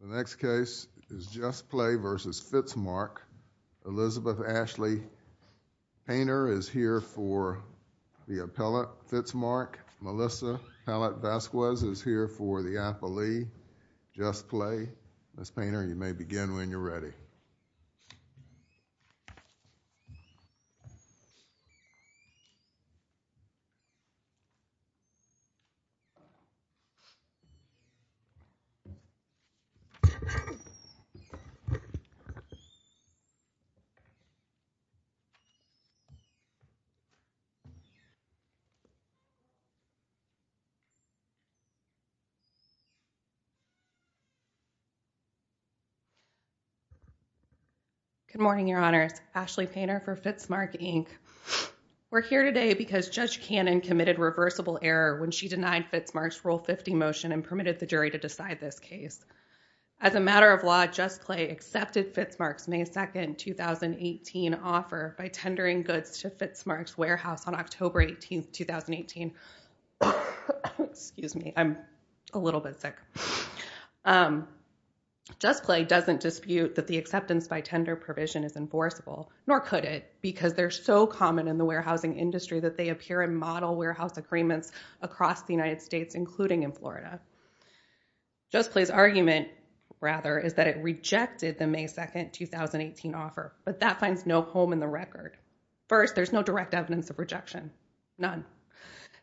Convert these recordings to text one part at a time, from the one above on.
The next case is Just Play v. Fitzmark. Elizabeth Ashley Painter is here for the appellate. Fitzmark, Melissa Pellet-Vasquez is here for the appellee. Just Play, Ms. Painter, you may begin when you're ready. Good morning, Your Honors. Ashley Painter for Fitzmark, Inc. We're here today because Judge Cannon committed reversible error when she denied Fitzmark's Article 50 motion and permitted the jury to decide this case. As a matter of law, Just Play accepted Fitzmark's May 2, 2018 offer by tendering goods to Fitzmark's warehouse on October 18, 2018. Just Play doesn't dispute that the acceptance by tender provision is enforceable, nor could it because they're so common in the warehousing industry that they appear in model warehouse agreements across the United States, including in Florida. Just Play's argument, rather, is that it rejected the May 2, 2018 offer, but that finds no home in the record. First, there's no direct evidence of rejection, none.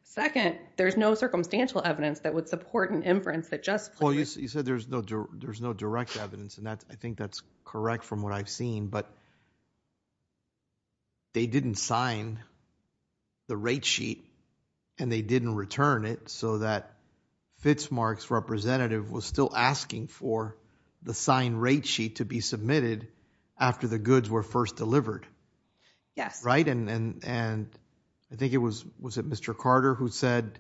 Second, there's no circumstantial evidence that would support an inference that Just Play would. You said there's no direct evidence, and I think that's correct from what I've seen, but they didn't sign the rate sheet, and they didn't return it, so that Fitzmark's representative was still asking for the signed rate sheet to be submitted after the goods were first delivered, right? And I think it was, was it Mr. Carter who said,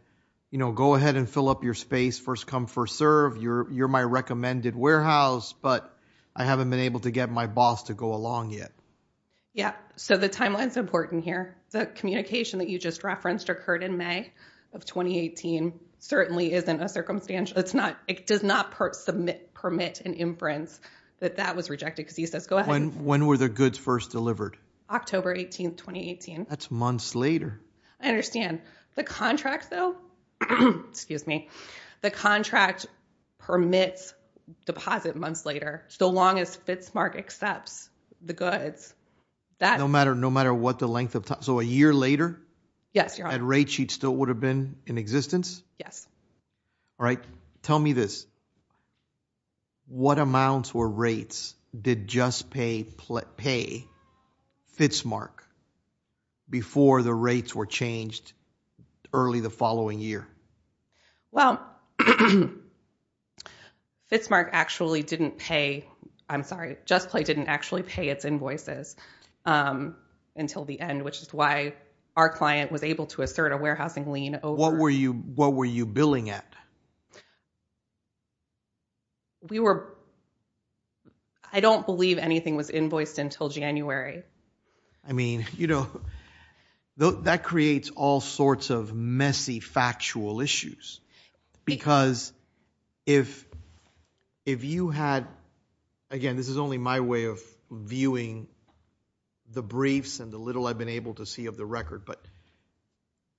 you know, go ahead and fill up your space, first come, first serve, you're my recommended warehouse, but I haven't been able to get my boss to go along yet. Yeah, so the timeline's important here. The communication that you just referenced occurred in May of 2018, certainly isn't a circumstantial, it's not, it does not permit an inference that that was rejected, because he says, go ahead. When were the goods first delivered? October 18, 2018. That's months later. I understand. The contract, though, excuse me, the contract permits deposit months later, so long as Fitzmark accepts the goods. No matter what the length of time, so a year later? Yes, Your Honor. That rate sheet still would have been in existence? Yes. All right, tell me this, what amounts or rates did JustPay pay Fitzmark before the rates were changed early the following year? Well, Fitzmark actually didn't pay, I'm sorry, JustPay didn't actually pay its invoices until the end, which is why our client was able to assert a warehousing lien over. What were you, what were you billing at? We were, I don't believe anything was invoiced until January. I mean, you know, that creates all sorts of messy factual issues, because if you had, again, this is only my way of viewing the briefs and the little I've been able to see of the record, but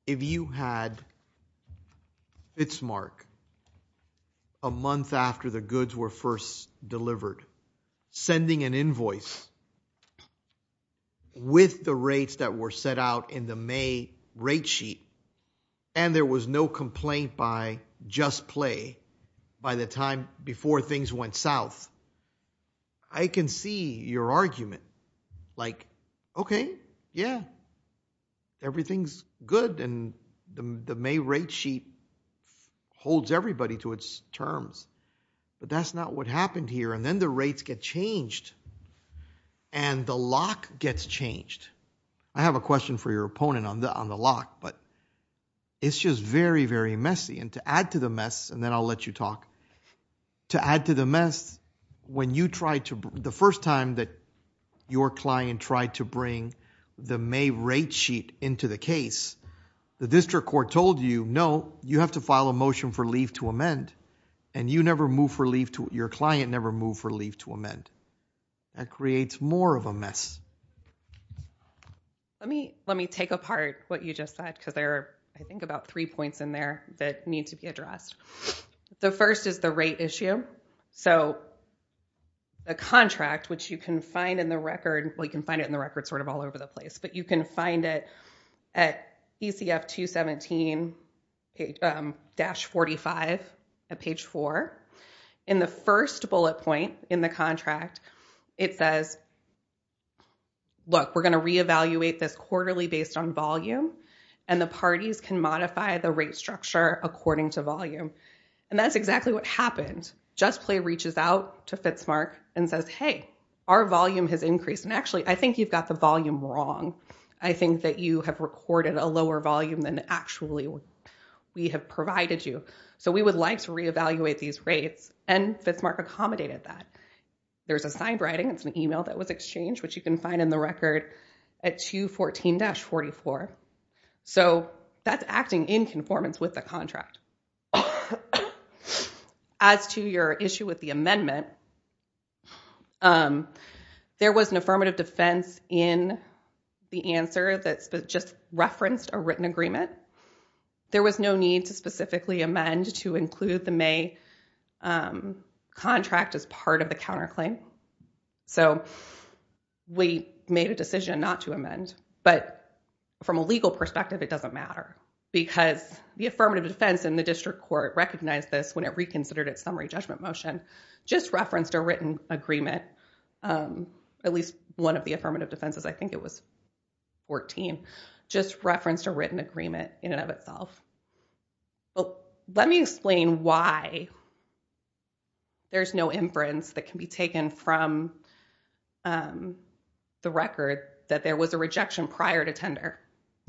if you had Fitzmark a month after the goods were first delivered sending an invoice with the rates that were set out in the May rate sheet, and there was no complaint by JustPay by the time before things went south, I can see your argument, like, okay, yeah, everything's good, and the May rate sheet holds everybody to its terms, but that's not what happened here, and then the rates get changed, and the lock gets changed. I have a question for your opponent on the lock, but it's just very, very messy, and to add to the mess, and then I'll let you talk, to add to the mess, when you tried to, the first time that your client tried to bring the May rate sheet into the case, the district court told you, no, you have to file a motion for leave to amend, and you never moved for leave, your client never moved for leave to amend, that creates more of a mess. Let me take apart what you just said, because there are, I think, about three points in there that need to be addressed. The first is the rate issue, so the contract, which you can find in the record, well, you can find it in the record sort of all over the place, but you can find it at ECF 217-45 at page four, and the first bullet point in the contract, it says, look, we're going to reevaluate this quarterly based on volume, and the parties can modify the rate structure according to volume, and that's exactly what happened. JustPlay reaches out to FITSMART and says, hey, our volume has increased, and actually, I think you've got the volume wrong. I think that you have recorded a lower volume than actually we have provided you, so we would like to reevaluate these rates, and FITSMART accommodated that. There's a side writing. It's an email that was exchanged, which you can find in the record at 214-44, so that's acting in conformance with the contract. As to your issue with the amendment, there was an affirmative defense in the answer that just referenced a written agreement. There was no need to specifically amend to include the May contract as part of the counterclaim, so we made a decision not to amend, but from a legal perspective, it doesn't matter because the affirmative defense in the district court recognized this when it reconsidered its summary judgment motion, just referenced a written agreement, at least one of the affirmative defenses, I think it was 14, just referenced a written agreement in and of itself. Let me explain why there's no inference that can be taken from the record that there was a rejection prior to tender.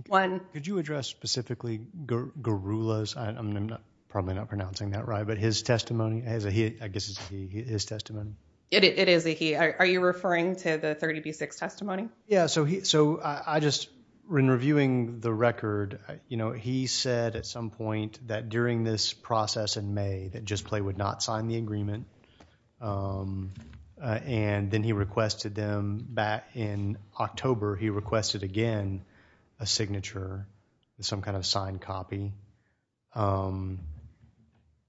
One... Could you address specifically Garula's, I'm probably not pronouncing that right, but his testimony as a he, I guess it's a he, his testimony? It is a he. Are you referring to the 30B6 testimony? Yeah, so I just, when reviewing the record, you know, he said at some point that during this process in May that JustPlay would not sign the agreement, and then he requested them back in October, he requested again a signature, some kind of signed copy.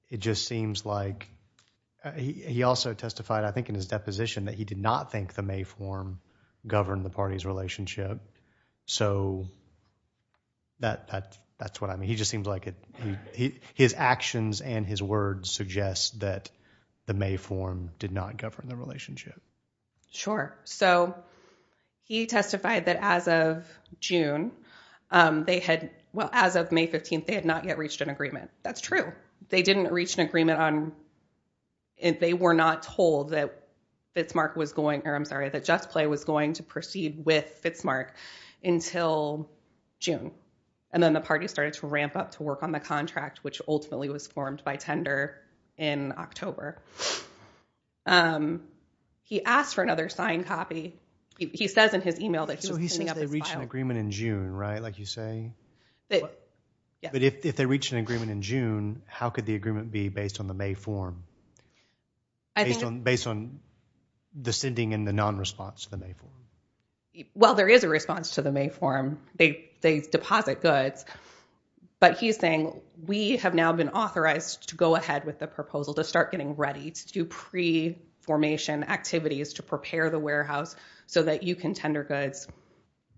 It just seems like, he also testified, I think in his deposition, that he did not think the May form governed the party's relationship, so that's what I mean, he just seems like it, his actions and his words suggest that the May form did not govern the relationship. Sure. So he testified that as of June, they had, well, as of May 15th, they had not yet reached an agreement. That's true. They didn't reach an agreement on, they were not told that JustPlay was going to proceed with Fitzmark until June, and then the party started to ramp up to work on the contract, which ultimately was formed by tender in October. He asked for another signed copy, he says in his email that he was cleaning up his file. So he says they reached an agreement in June, right, like you say? Yeah. But if they reached an agreement in June, how could the agreement be based on the May form? Based on the sending and the non-response to the May form? Well, there is a response to the May form, they deposit goods, but he's saying, we have now been authorized to go ahead with the proposal to start getting ready to do pre-formation activities to prepare the warehouse so that you can tender goods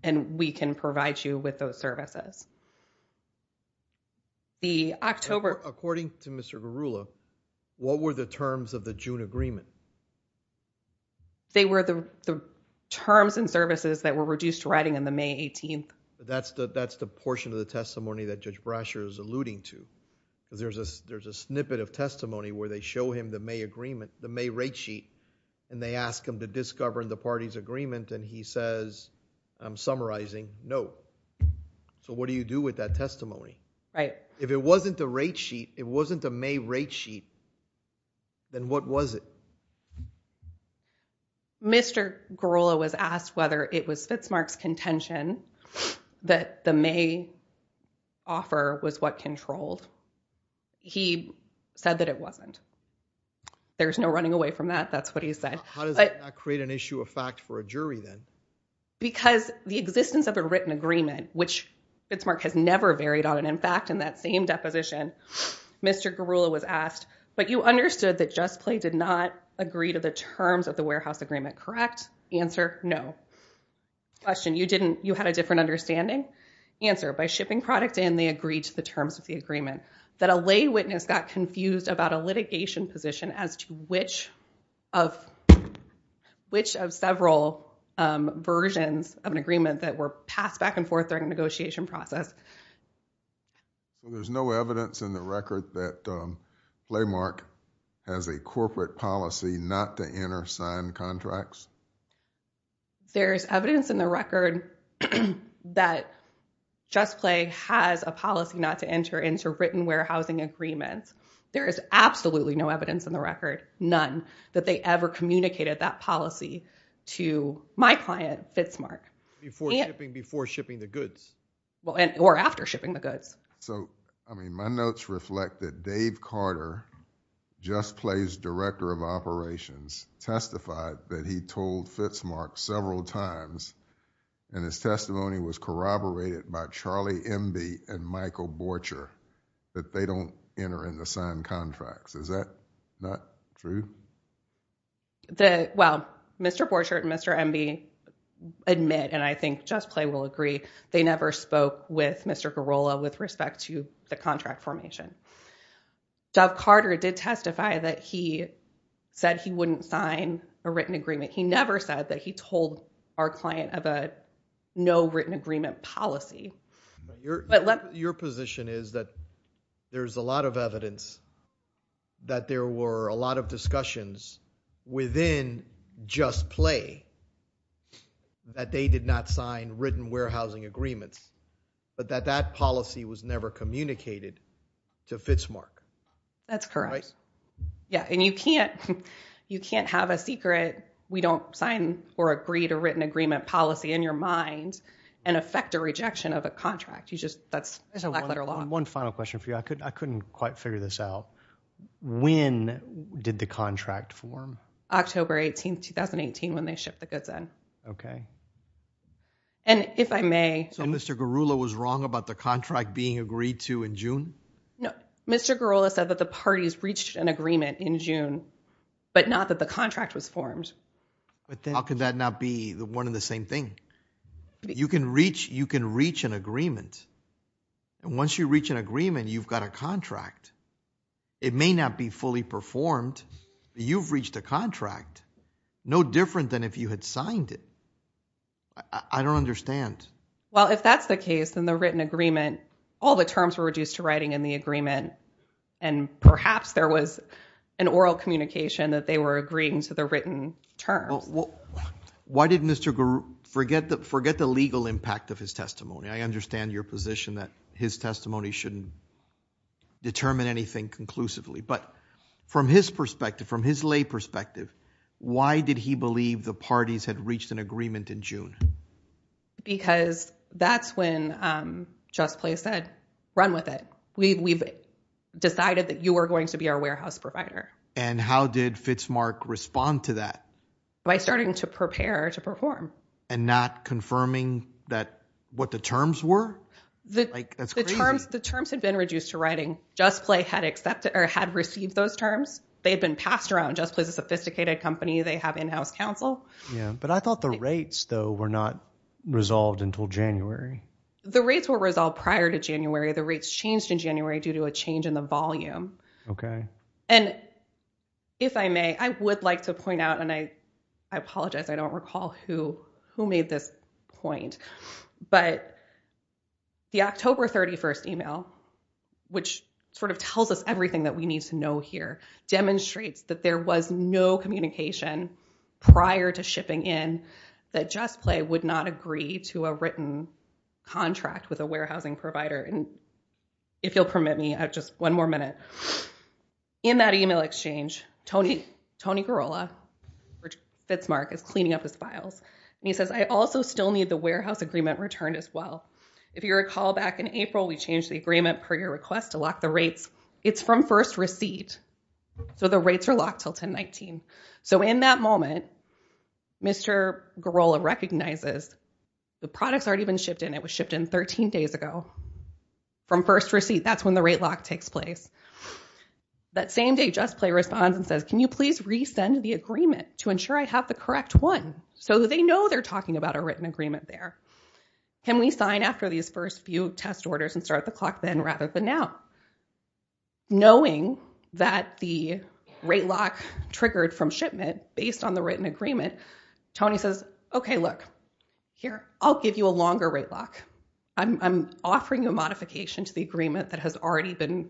and we can provide you with those services. The October... According to Mr. Garula, what were the terms of the June agreement? They were the terms and services that were reduced to writing on the May 18th. That's the portion of the testimony that Judge Brasher is alluding to. There's a snippet of testimony where they show him the May agreement, the May rate sheet, and they ask him to discover the party's agreement and he says, I'm summarizing, no. So what do you do with that testimony? Right. If it wasn't a rate sheet, it wasn't a May rate sheet, then what was it? Mr. Garula was asked whether it was Fitzmark's contention that the May offer was what controlled. He said that it wasn't. There's no running away from that. That's what he said. How does that not create an issue of fact for a jury then? Because the existence of a written agreement, which Fitzmark has never varied on, and in fact, in that same deposition, Mr. Garula was asked, but you understood that JustPlay did not agree to the terms of the warehouse agreement, correct? Answer, no. Question, you didn't, you had a different understanding? Answer, by shipping product and they agreed to the terms of the agreement. That a lay witness got confused about a litigation position as to which of, which of several versions of an agreement that were passed back and forth during the negotiation process. There's no evidence in the record that Playmark has a corporate policy not to enter signed contracts? There's evidence in the record that JustPlay has a policy not to enter into written warehousing agreements. There is absolutely no evidence in the record, none, that they ever communicated that policy to my client, Fitzmark. Before shipping, before shipping the goods. Well, and, or after shipping the goods. So, I mean, my notes reflect that Dave Carter, JustPlay's director of operations, testified that he told Fitzmark several times, and his testimony was corroborated by Charlie Emby and Michael Borcher, that they don't enter into signed contracts. Is that not true? The, well, Mr. Borcher and Mr. Emby admit, and I think JustPlay will agree, they never spoke with Mr. Garola with respect to the contract formation. Dave Carter did testify that he said he wouldn't sign a written agreement. He never said that he told our client of a no written agreement policy. Your position is that there's a lot of evidence that there were a lot of discussions within JustPlay that they did not sign written warehousing agreements, but that that policy was never communicated to Fitzmark. That's correct. Yeah, and you can't, you can't have a secret, we don't sign or agree to written agreement policy in your mind and affect a rejection of a contract. You just, that's a lackluster law. One final question for you. I couldn't, I couldn't quite figure this out. When did the contract form? October 18th, 2018 when they shipped the goods in. Okay. And if I may. So Mr. Garula was wrong about the contract being agreed to in June? No, Mr. Garula said that the parties reached an agreement in June, but not that the contract was formed. But then how could that not be the one and the same thing? You can reach, you can reach an agreement and once you reach an agreement, you've got a contract. It may not be fully performed, but you've reached a contract. No different than if you had signed it. I don't understand. Well, if that's the case, then the written agreement, all the terms were reduced to writing in the agreement. And perhaps there was an oral communication that they were agreeing to the written terms. Why didn't Mr. Garula, forget the, forget the legal impact of his testimony. I understand your position that his testimony shouldn't determine anything conclusively, but from his perspective, from his lay perspective, why did he believe the parties had reached an agreement in June? Because that's when JustPlace said, run with it. We've decided that you are going to be our warehouse provider. And how did Fitzmark respond to that? By starting to prepare to perform. And not confirming that, what the terms were? Like, that's crazy. The terms had been reduced to writing, JustPlay had accepted, or had received those terms. They had been passed around. JustPlace is a sophisticated company. They have in-house counsel. Yeah. But I thought the rates, though, were not resolved until January. The rates were resolved prior to January. The rates changed in January due to a change in the volume. Okay. And if I may, I would like to point out, and I apologize, I don't recall who made this point, but the October 31st email, which sort of tells us everything that we need to know here, demonstrates that there was no communication prior to shipping in that JustPlay would not agree to a written contract with a warehousing provider. And if you'll permit me, I have just one more minute. In that email exchange, Tony Garola, or Fitzmark, is cleaning up his files. And he says, I also still need the warehouse agreement returned as well. If you recall, back in April, we changed the agreement per your request to lock the rates. It's from first receipt. So the rates are locked until 10-19. So in that moment, Mr. Garola recognizes the product's already been shipped in. It was shipped in 13 days ago from first receipt. That's when the rate lock takes place. That same day, JustPlay responds and says, can you please resend the agreement to ensure I have the correct one? So they know they're talking about a written agreement there. Can we sign after these first few test orders and start the clock then rather than now? Knowing that the rate lock triggered from shipment based on the written agreement, Tony says, OK, look, here, I'll give you a longer rate lock. I'm offering a modification to the agreement that has already been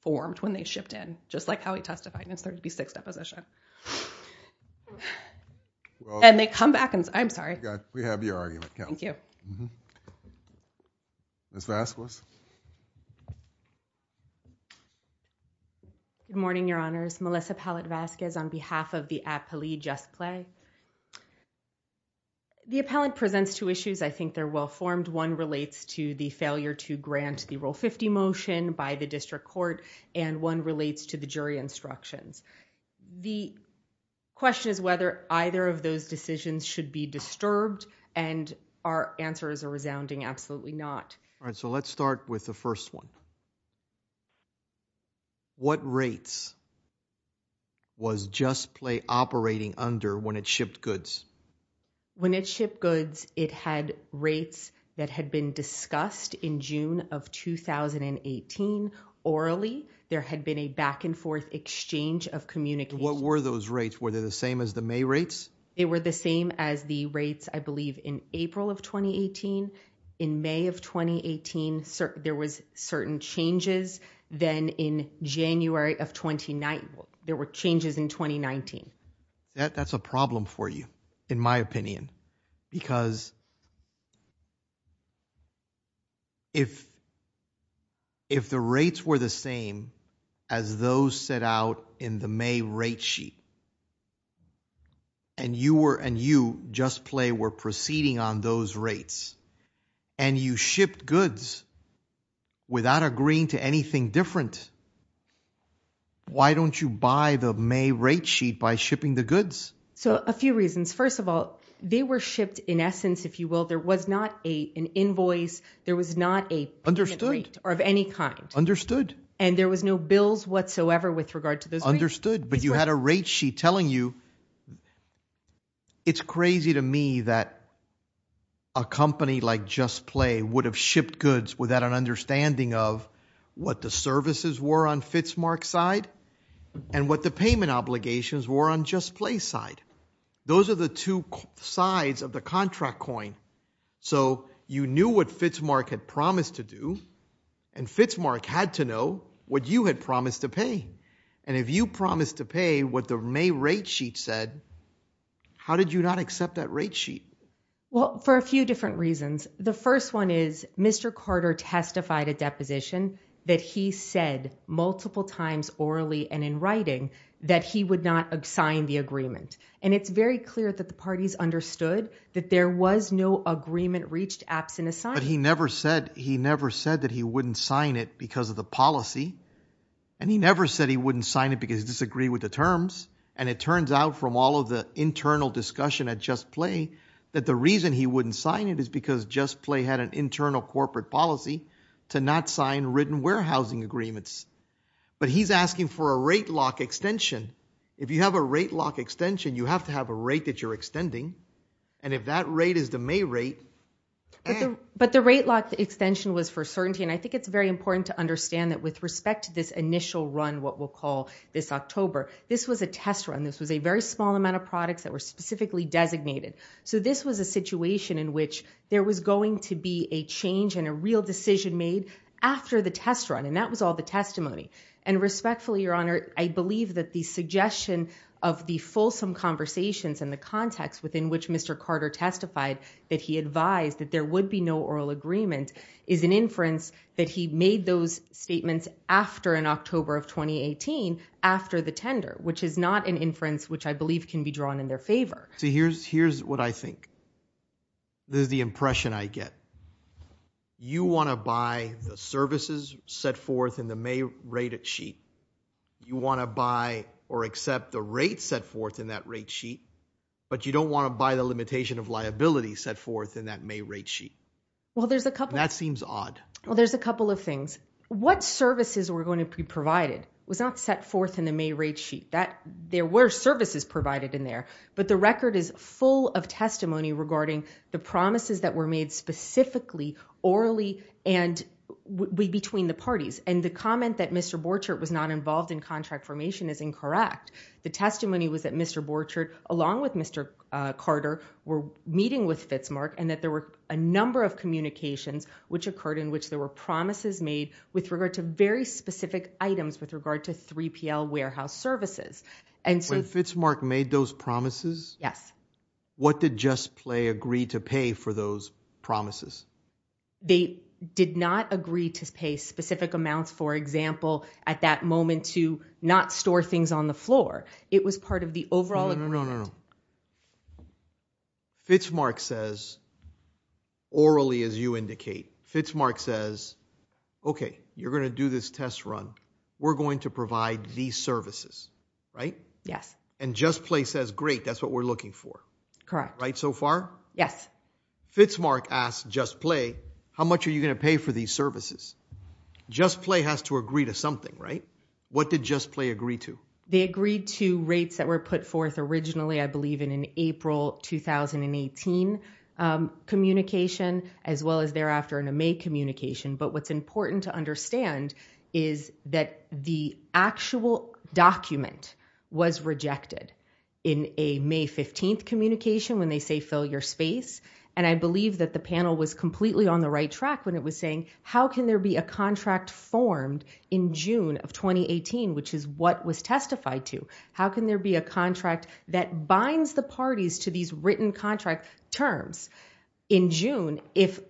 formed when they shipped in, just like how he testified in his 36 deposition. And they come back and say, I'm sorry. We have your argument. Thank you. Mm-hmm. Ms. Vazquez? Good morning, Your Honors. Melissa Pallette Vazquez on behalf of the appellee JustPlay. The appellate presents two issues. I think they're well formed. One relates to the failure to grant the Rule 50 motion by the district court, and one relates to the jury instructions. The question is whether either of those decisions should be disturbed, and our answers are resounding absolutely not. All right. So let's start with the first one. What rates was JustPlay operating under when it shipped goods? When it shipped goods, it had rates that had been discussed in June of 2018 orally. There had been a back and forth exchange of communication. What were those rates? Were they the same as the May rates? They were the same as the rates, I believe, in April of 2018. In May of 2018, there was certain changes. Then in January of 2019, there were changes in 2019. That's a problem for you, in my opinion, because if the rates were the same as those set out in the May rate sheet, and you and JustPlay were proceeding on those rates, and you shipped goods without agreeing to anything different, why don't you buy the May rate sheet by shipping the goods? So a few reasons. First of all, they were shipped in essence, if you will. There was not an invoice. There was not a payment rate of any kind. Understood. And there was no bills whatsoever with regard to those rates? Understood. But you had a rate sheet telling you. It's crazy to me that a company like JustPlay would have shipped goods without an understanding of what the services were on FITSMARK's side and what the payment obligations were on JustPlay's side. Those are the two sides of the contract coin. So you knew what FITSMARK had promised to do, and FITSMARK had to know what you had promised to pay. And if you promised to pay what the May rate sheet said, how did you not accept that rate sheet? Well, for a few different reasons. The first one is Mr. Carter testified a deposition that he said multiple times orally and in writing that he would not sign the agreement. And it's very clear that the parties understood that there was no agreement reached absent a sign. But he never said he never said that he wouldn't sign it because of the policy. And he never said he wouldn't sign it because he disagreed with the terms. And it turns out from all of the internal discussion at JustPlay that the reason he wouldn't sign it is because JustPlay had an internal corporate policy to not sign written warehousing agreements. But he's asking for a rate lock extension. If you have a rate lock extension, you have to have a rate that you're extending. And if that rate is the May rate... But the rate lock extension was for certainty, and I think it's very important to understand that with respect to this initial run, what we'll call this October, this was a test run. This was a very small amount of products that were specifically designated. So this was a situation in which there was going to be a change and a real decision made after the test run, and that was all the testimony. And respectfully, Your Honor, I believe that the suggestion of the fulsome conversations and the context within which Mr. Carter testified that he advised that there would be no oral agreement is an inference that he made those statements after in October of 2018, after the tender, which is not an inference which I believe can be drawn in their favor. So here's what I think, this is the impression I get. You want to buy the services set forth in the May rate sheet. You want to buy or accept the rates set forth in that rate sheet, but you don't want to buy the limitation of liability set forth in that May rate sheet. Well, there's a couple... That seems odd. Well, there's a couple of things. What services were going to be provided was not set forth in the May rate sheet. There were services provided in there, but the record is full of testimony regarding the promises that were made specifically, orally, and between the parties. And the comment that Mr. Borchardt was not involved in contract formation is incorrect. The testimony was that Mr. Borchardt, along with Mr. Carter, were meeting with Fitzmark, and that there were a number of communications which occurred in which there were promises made with regard to very specific items with regard to 3PL warehouse services. And so... When Fitzmark made those promises? Yes. What did JustPlay agree to pay for those promises? They did not agree to pay specific amounts, for example, at that moment to not store things on the floor. It was part of the overall agreement. No, no, no, no. Fitzmark says, orally, as you indicate, Fitzmark says, okay, you're going to do this test run. We're going to provide these services, right? Yes. And JustPlay says, great, that's what we're looking for. Correct. Right so far? Yes. Fitzmark asked JustPlay, how much are you going to pay for these services? JustPlay has to agree to something, right? What did JustPlay agree to? They agreed to rates that were put forth originally, I believe, in an April 2018 communication, as well as thereafter in a May communication. But what's important to understand is that the actual document was rejected in a May 15th communication when they say fill your space. And I believe that the panel was completely on the right track when it was saying, how can there be a contract formed in June of 2018, which is what was testified to? How can there be a contract that binds the parties to these written contract terms in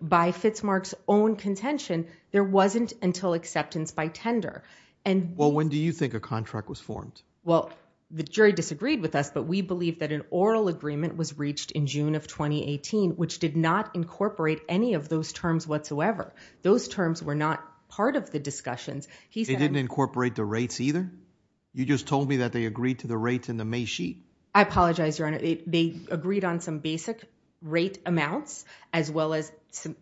By Fitzmark's own contention, there wasn't until acceptance by tender. And well, when do you think a contract was formed? Well, the jury disagreed with us, but we believe that an oral agreement was reached in June of 2018, which did not incorporate any of those terms whatsoever. Those terms were not part of the discussions. He said- They didn't incorporate the rates either? You just told me that they agreed to the rates in the May sheet. I apologize, Your Honor. They agreed on some basic rate amounts, as well as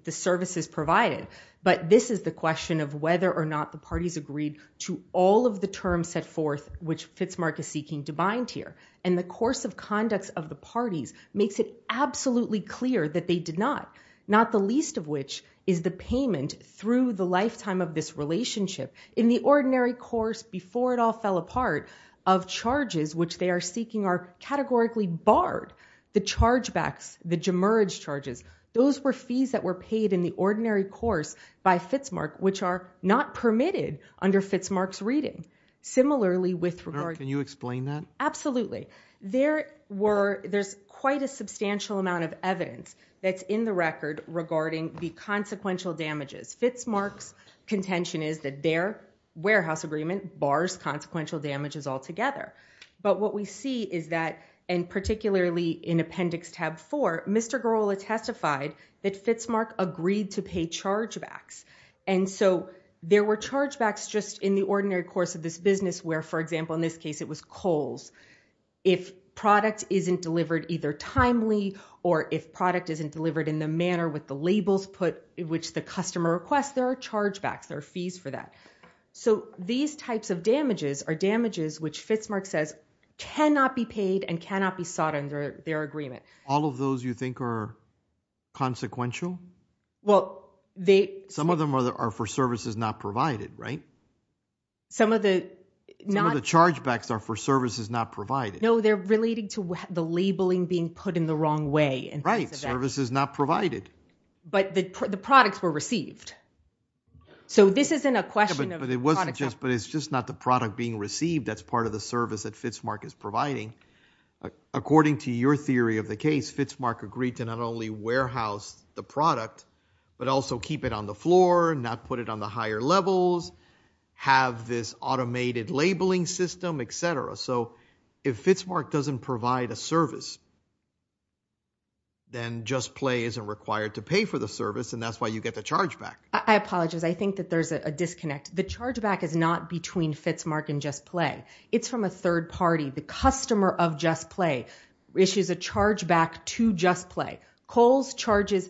the services provided. But this is the question of whether or not the parties agreed to all of the terms set forth which Fitzmark is seeking to bind here. And the course of conducts of the parties makes it absolutely clear that they did not, not the least of which is the payment through the lifetime of this relationship in the ordinary course before it all fell apart of charges which they are seeking are categorically barred. The chargebacks, the gemurrage charges, those were fees that were paid in the ordinary course by Fitzmark, which are not permitted under Fitzmark's reading. Similarly with regard- Can you explain that? Absolutely. There were, there's quite a substantial amount of evidence that's in the record regarding the consequential damages. Fitzmark's contention is that their warehouse agreement bars consequential damages altogether. But what we see is that, and particularly in Appendix Tab 4, Mr. Gorolla testified that Fitzmark agreed to pay chargebacks. And so there were chargebacks just in the ordinary course of this business where, for example in this case, it was coals. If product isn't delivered either timely or if product isn't delivered in the manner with the labels put in which the customer requests, there are chargebacks, there are fees for that. So these types of damages are damages which Fitzmark says cannot be paid and cannot be sought under their agreement. All of those you think are consequential? Well, they- Some of them are for services not provided, right? Some of the- Some of the chargebacks are for services not provided. No, they're relating to the labeling being put in the wrong way. Right. For services not provided. But the products were received. So this isn't a question of the product- But it's just not the product being received. That's part of the service that Fitzmark is providing. According to your theory of the case, Fitzmark agreed to not only warehouse the product, but also keep it on the floor, not put it on the higher levels, have this automated labeling system, et cetera. So if Fitzmark doesn't provide a service, then JustPlay isn't required to pay for the service and that's why you get the chargeback. I apologize. I think that there's a disconnect. The chargeback is not between Fitzmark and JustPlay. It's from a third party. The customer of JustPlay issues a chargeback to JustPlay. Kohl's charges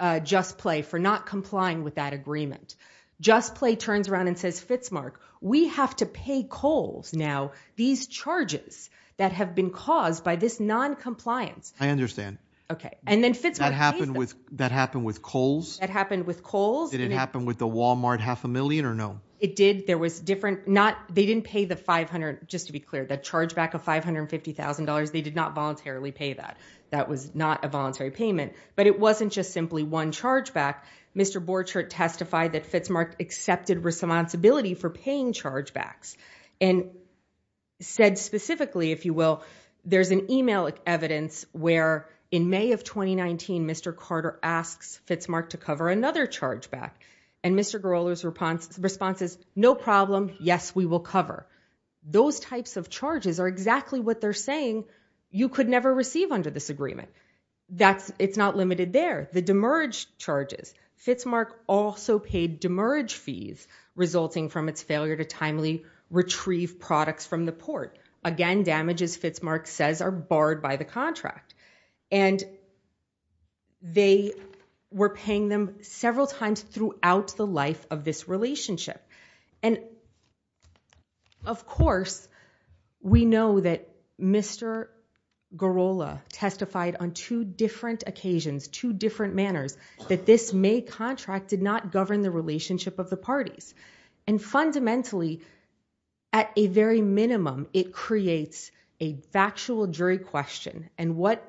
JustPlay for not complying with that agreement. JustPlay turns around and says, Fitzmark, we have to pay Kohl's now. These charges that have been caused by this noncompliance- I understand. Okay. And then Fitzmark pays them. That happened with Kohl's? That happened with Kohl's. Did it happen with the Walmart half a million or no? It did. There was different- They didn't pay the 500, just to be clear, the chargeback of $550,000. They did not voluntarily pay that. That was not a voluntary payment. But it wasn't just simply one chargeback. Mr. Borchert testified that Fitzmark accepted responsibility for paying chargebacks. And said specifically, if you will, there's an email evidence where in May of 2019, Mr. Carter asks Fitzmark to cover another chargeback. And Mr. Garola's response is, no problem, yes, we will cover. Those types of charges are exactly what they're saying you could never receive under this agreement. It's not limited there. The demerge charges. Fitzmark also paid demerge fees resulting from its failure to timely retrieve products from the port. Again, damages, Fitzmark says, are barred by the contract. And they were paying them several times throughout the life of this relationship. And of course, we know that Mr. Garola testified on two different occasions, two different manners, that this May contract did not govern the relationship of the parties. And fundamentally, at a very minimum, it creates a factual jury question. And what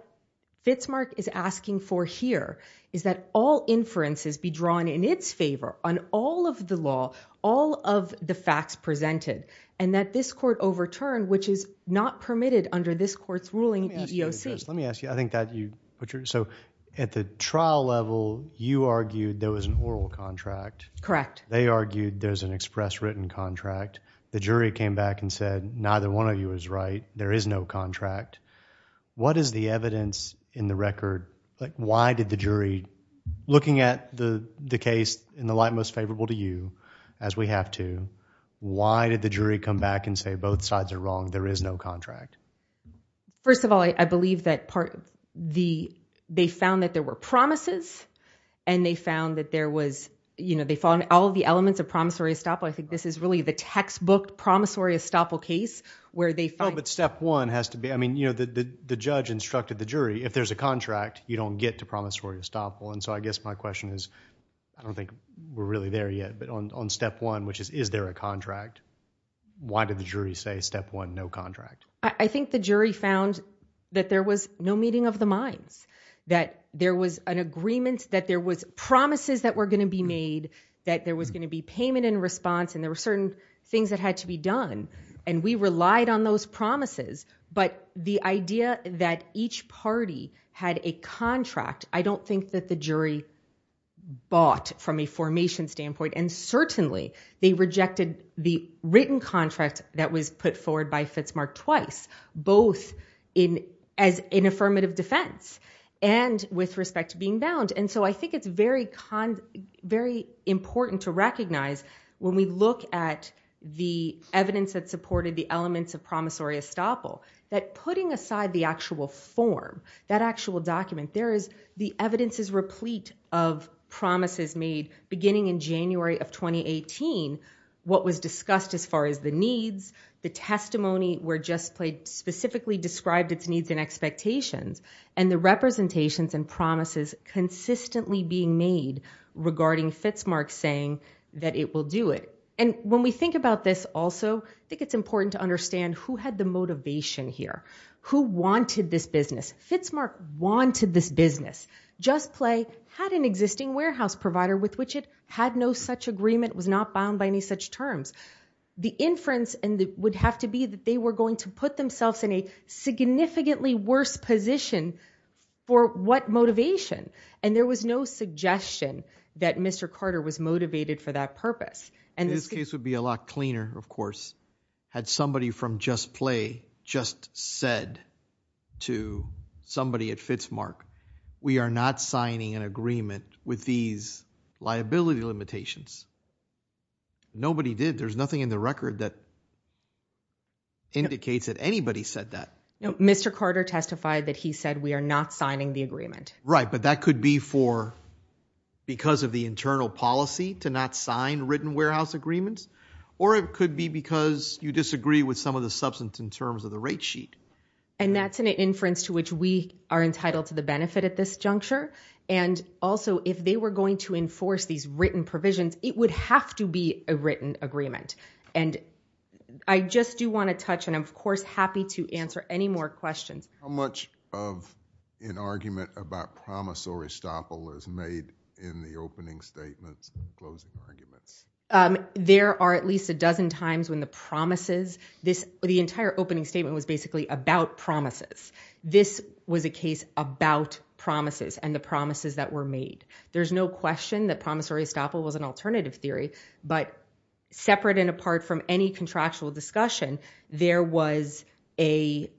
Fitzmark is asking for here is that all inferences be drawn in its favor on all of the law, all of the facts presented, and that this court overturn, which is not permitted under this court's ruling at EEOC. Let me ask you, I think that you put your, so at the trial level, you argued there was an oral contract. Correct. They argued there's an express written contract. The jury came back and said, neither one of you is right. There is no contract. What is the evidence in the record? Why did the jury, looking at the case in the light most favorable to you, as we have to, why did the jury come back and say, both sides are wrong, there is no contract? First of all, I believe that part of the, they found that there were promises, and they found that there was, you know, they found all of the elements of promissory estoppel. I think this is really the textbook promissory estoppel case, where they find- Oh, but step one has to be, I mean, you know, the judge instructed the jury, if there's a contract, you don't get to promissory estoppel. And so I guess my question is, I don't think we're really there yet, but on step one, which is, is there a contract? Why did the jury say step one, no contract? I think the jury found that there was no meeting of the minds, that there was an agreement, that there was promises that were going to be made, that there was going to be payment in response, and there were certain things that had to be done. And we relied on those promises. But the idea that each party had a contract, I don't think that the jury bought from a formation standpoint, and certainly they rejected the written contract that was put forward by Fitzmark twice, both as an affirmative defense and with respect to being bound. And so I think it's very important to recognize when we look at the evidence that supported the elements of promissory estoppel, that putting aside the actual form, that actual document, there is- the evidence is replete of promises made beginning in January of 2018, what was discussed as far as the needs, the testimony where JustPlay specifically described its needs and expectations, and the representations and promises consistently being made regarding Fitzmark saying that it will do it. And when we think about this also, I think it's important to understand who had the motivation here. Who wanted this business? Fitzmark wanted this business. JustPlay had an existing warehouse provider with which it had no such agreement, was not bound by any such terms. The inference would have to be that they were going to put themselves in a significantly worse position for what motivation? And there was no suggestion that Mr. Carter was motivated for that purpose. And this case would be a lot cleaner, of course, had somebody from JustPlay just said to somebody at Fitzmark, we are not signing an agreement with these liability limitations. Nobody did. There's nothing in the record that indicates that anybody said that. No, Mr. Carter testified that he said we are not signing the agreement. Right. But that could be for- because of the internal policy to not sign written warehouse agreements, or it could be because you disagree with some of the substance in terms of the rate sheet. And that's an inference to which we are entitled to the benefit at this juncture. And also, if they were going to enforce these written provisions, it would have to be a written agreement. And I just do want to touch, and I'm, of course, happy to answer any more questions. How much of an argument about promise or estoppel is made in the opening statements and closing arguments? There are at least a dozen times when the promises- the entire opening statement was basically about promises. This was a case about promises and the promises that were made. There's no question that promise or estoppel was an alternative theory. But separate and apart from any contractual discussion, there was a-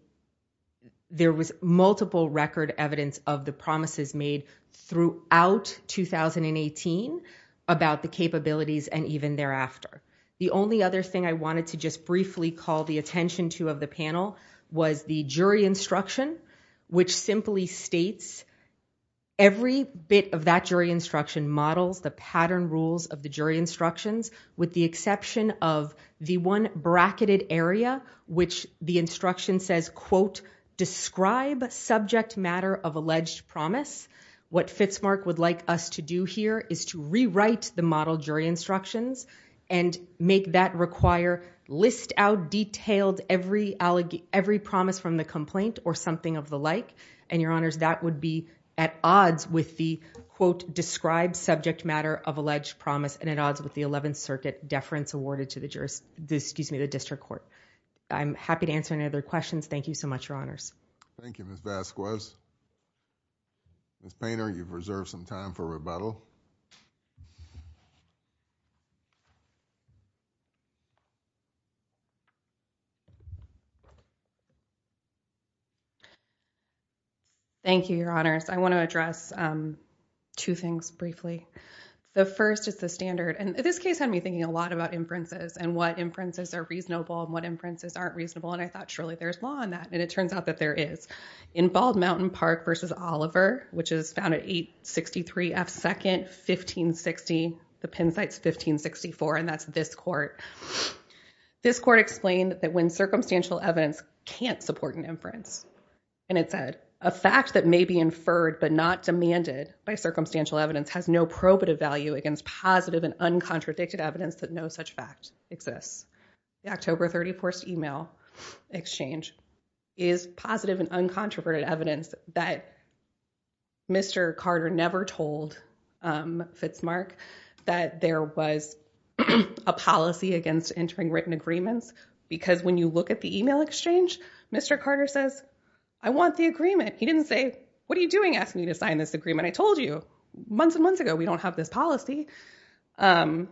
there was multiple record evidence of the promises made throughout 2018 about the capabilities and even thereafter. The only other thing I wanted to just briefly call the attention to of the panel was the jury instruction, which simply states every bit of that jury instruction models the pattern rules of the jury instructions, with the exception of the one bracketed area, which the instruction says, quote, describe subject matter of alleged promise. What Fitzmark would like us to do here is to rewrite the model jury instructions and make that require list out detailed every promise from the complaint or something of the like. And, Your Honors, that would be at odds with the, quote, describe subject matter of alleged promise and at odds with the 11th Circuit deference awarded to the jurist- excuse me, the district court. I'm happy to answer any other questions. Thank you so much, Your Honors. Thank you, Ms. Vasquez. Ms. Painter, you've reserved some time for rebuttal. Thank you, Your Honors. I want to address two things briefly. The first is the standard, and this case had me thinking a lot about inferences and what inferences are reasonable and what inferences aren't reasonable, and I thought surely there's law in that. And it turns out that there is. In Bald Mountain Park v. Oliver, which is found at 863 F. 2nd, 1560, the Penn site's 1564, and that's this court, this court explained that when circumstantial evidence can't support an inference, and it said, a fact that may be inferred but not demanded by circumstantial evidence has no probative value against positive and uncontradicted evidence that no such fact exists. The October 31st email exchange is positive and uncontroverted evidence that Mr. Carter never told Fitzmark that there was a policy against entering written agreements because when you look at the email exchange, Mr. Carter says, I want the agreement. He didn't say, what are you doing asking me to sign this agreement? I told you months and months ago we don't have this policy. And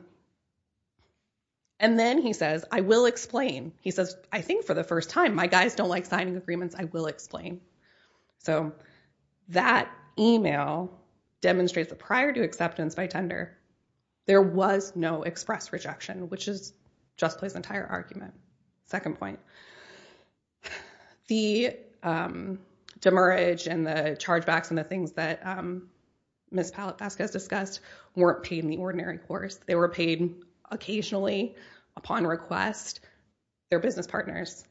then he says, I will explain. He says, I think for the first time, my guys don't like signing agreements. I will explain. So that email demonstrates that prior to acceptance by tender, there was no express rejection, which just plays the entire argument. Second point, the demurrage and the chargebacks and the things that Ms. Pallett-Vasquez discussed weren't paid in the ordinary course. They were paid occasionally upon request, their business partners.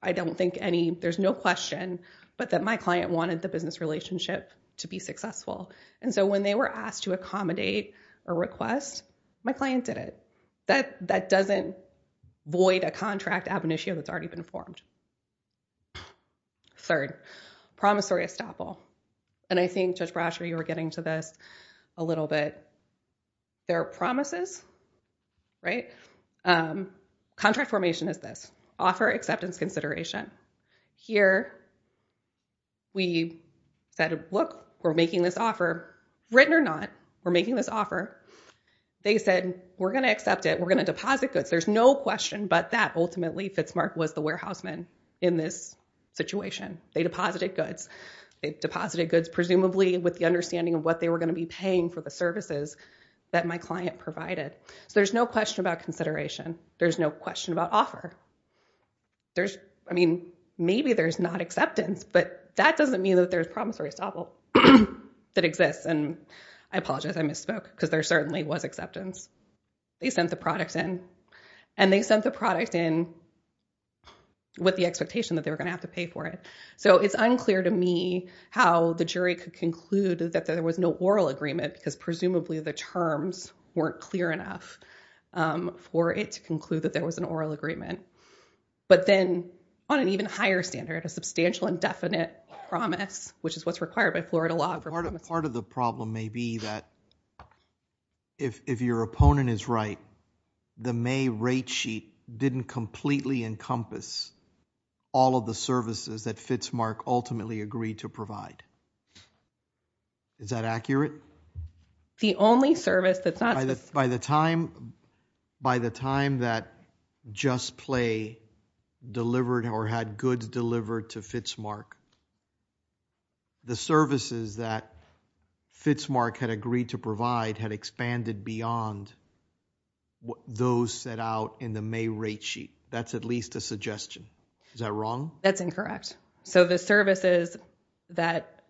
I don't think any, there's no question, but that my client wanted the business relationship to be successful. And so when they were asked to accommodate a request, my client did it. That doesn't void a contract ab initio that's already been formed. Third, promissory estoppel. And I think, Judge Brasher, you were getting to this a little bit. There are promises, right? Contract formation is this, offer acceptance consideration. Here we said, look, we're making this offer, written or not, we're making this offer. They said, we're going to accept it. We're going to deposit goods. There's no question, but that ultimately, Fitzmark was the warehouse man in this situation. They deposited goods. They deposited goods presumably with the understanding of what they were going to be paying for the services that my client provided. So there's no question about consideration. There's no question about offer. There's, I mean, maybe there's not acceptance, but that doesn't mean that there's promissory estoppel that exists. And I apologize, I misspoke because there certainly was acceptance. They sent the products in and they sent the product in with the expectation that they were going to have to pay for it. So it's unclear to me how the jury could conclude that there was no oral agreement because presumably the terms weren't clear enough for it to conclude that there was an oral agreement. But then on an even higher standard, a substantial indefinite promise, which is what's required by Florida law. Part of the problem may be that if your opponent is right, the May rate sheet didn't completely encompass all of the services that FITS Mark ultimately agreed to provide. Is that accurate? The only service that's not. By the time, by the time that Just Play delivered or had goods delivered to FITS Mark, the services that FITS Mark had agreed to provide had expanded beyond what those set out in the May rate sheet. That's at least a suggestion. Is that wrong? That's incorrect. So the services that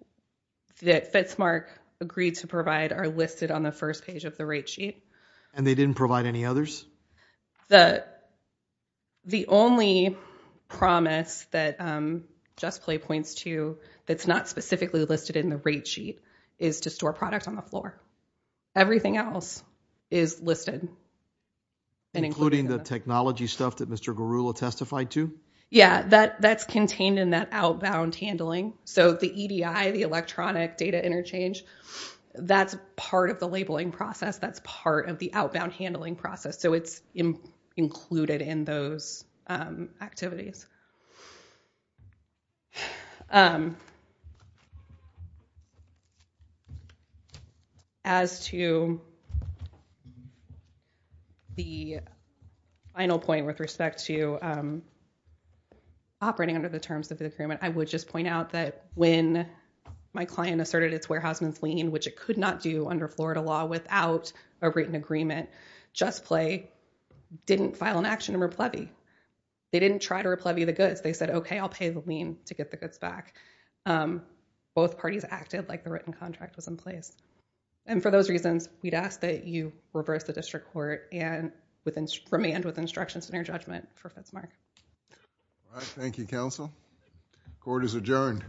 FITS Mark agreed to provide are listed on the first page of the rate sheet. And they didn't provide any others? The only promise that Just Play points to that's not specifically listed in the rate sheet is to store products on the floor. Everything else is listed. Including the technology stuff that Mr. Garula testified to? Yeah, that's contained in that outbound handling. So the EDI, the electronic data interchange, that's part of the labeling process. That's part of the outbound handling process. So it's included in those activities. As to the final point with respect to operating under the terms of the agreement, I would just point out that when my client asserted its warehouseman's lien, which it could not do under Florida law without a written agreement, Just Play didn't file an action to replevee. They didn't try to replevee the goods. They said, okay, I'll pay the lien to get the goods back. Both parties acted like the written contract was in place. And for those reasons, we'd ask that you reverse the district court and remain with instructions in your judgment for FITS Mark. All right. Thank you, counsel. Court is adjourned.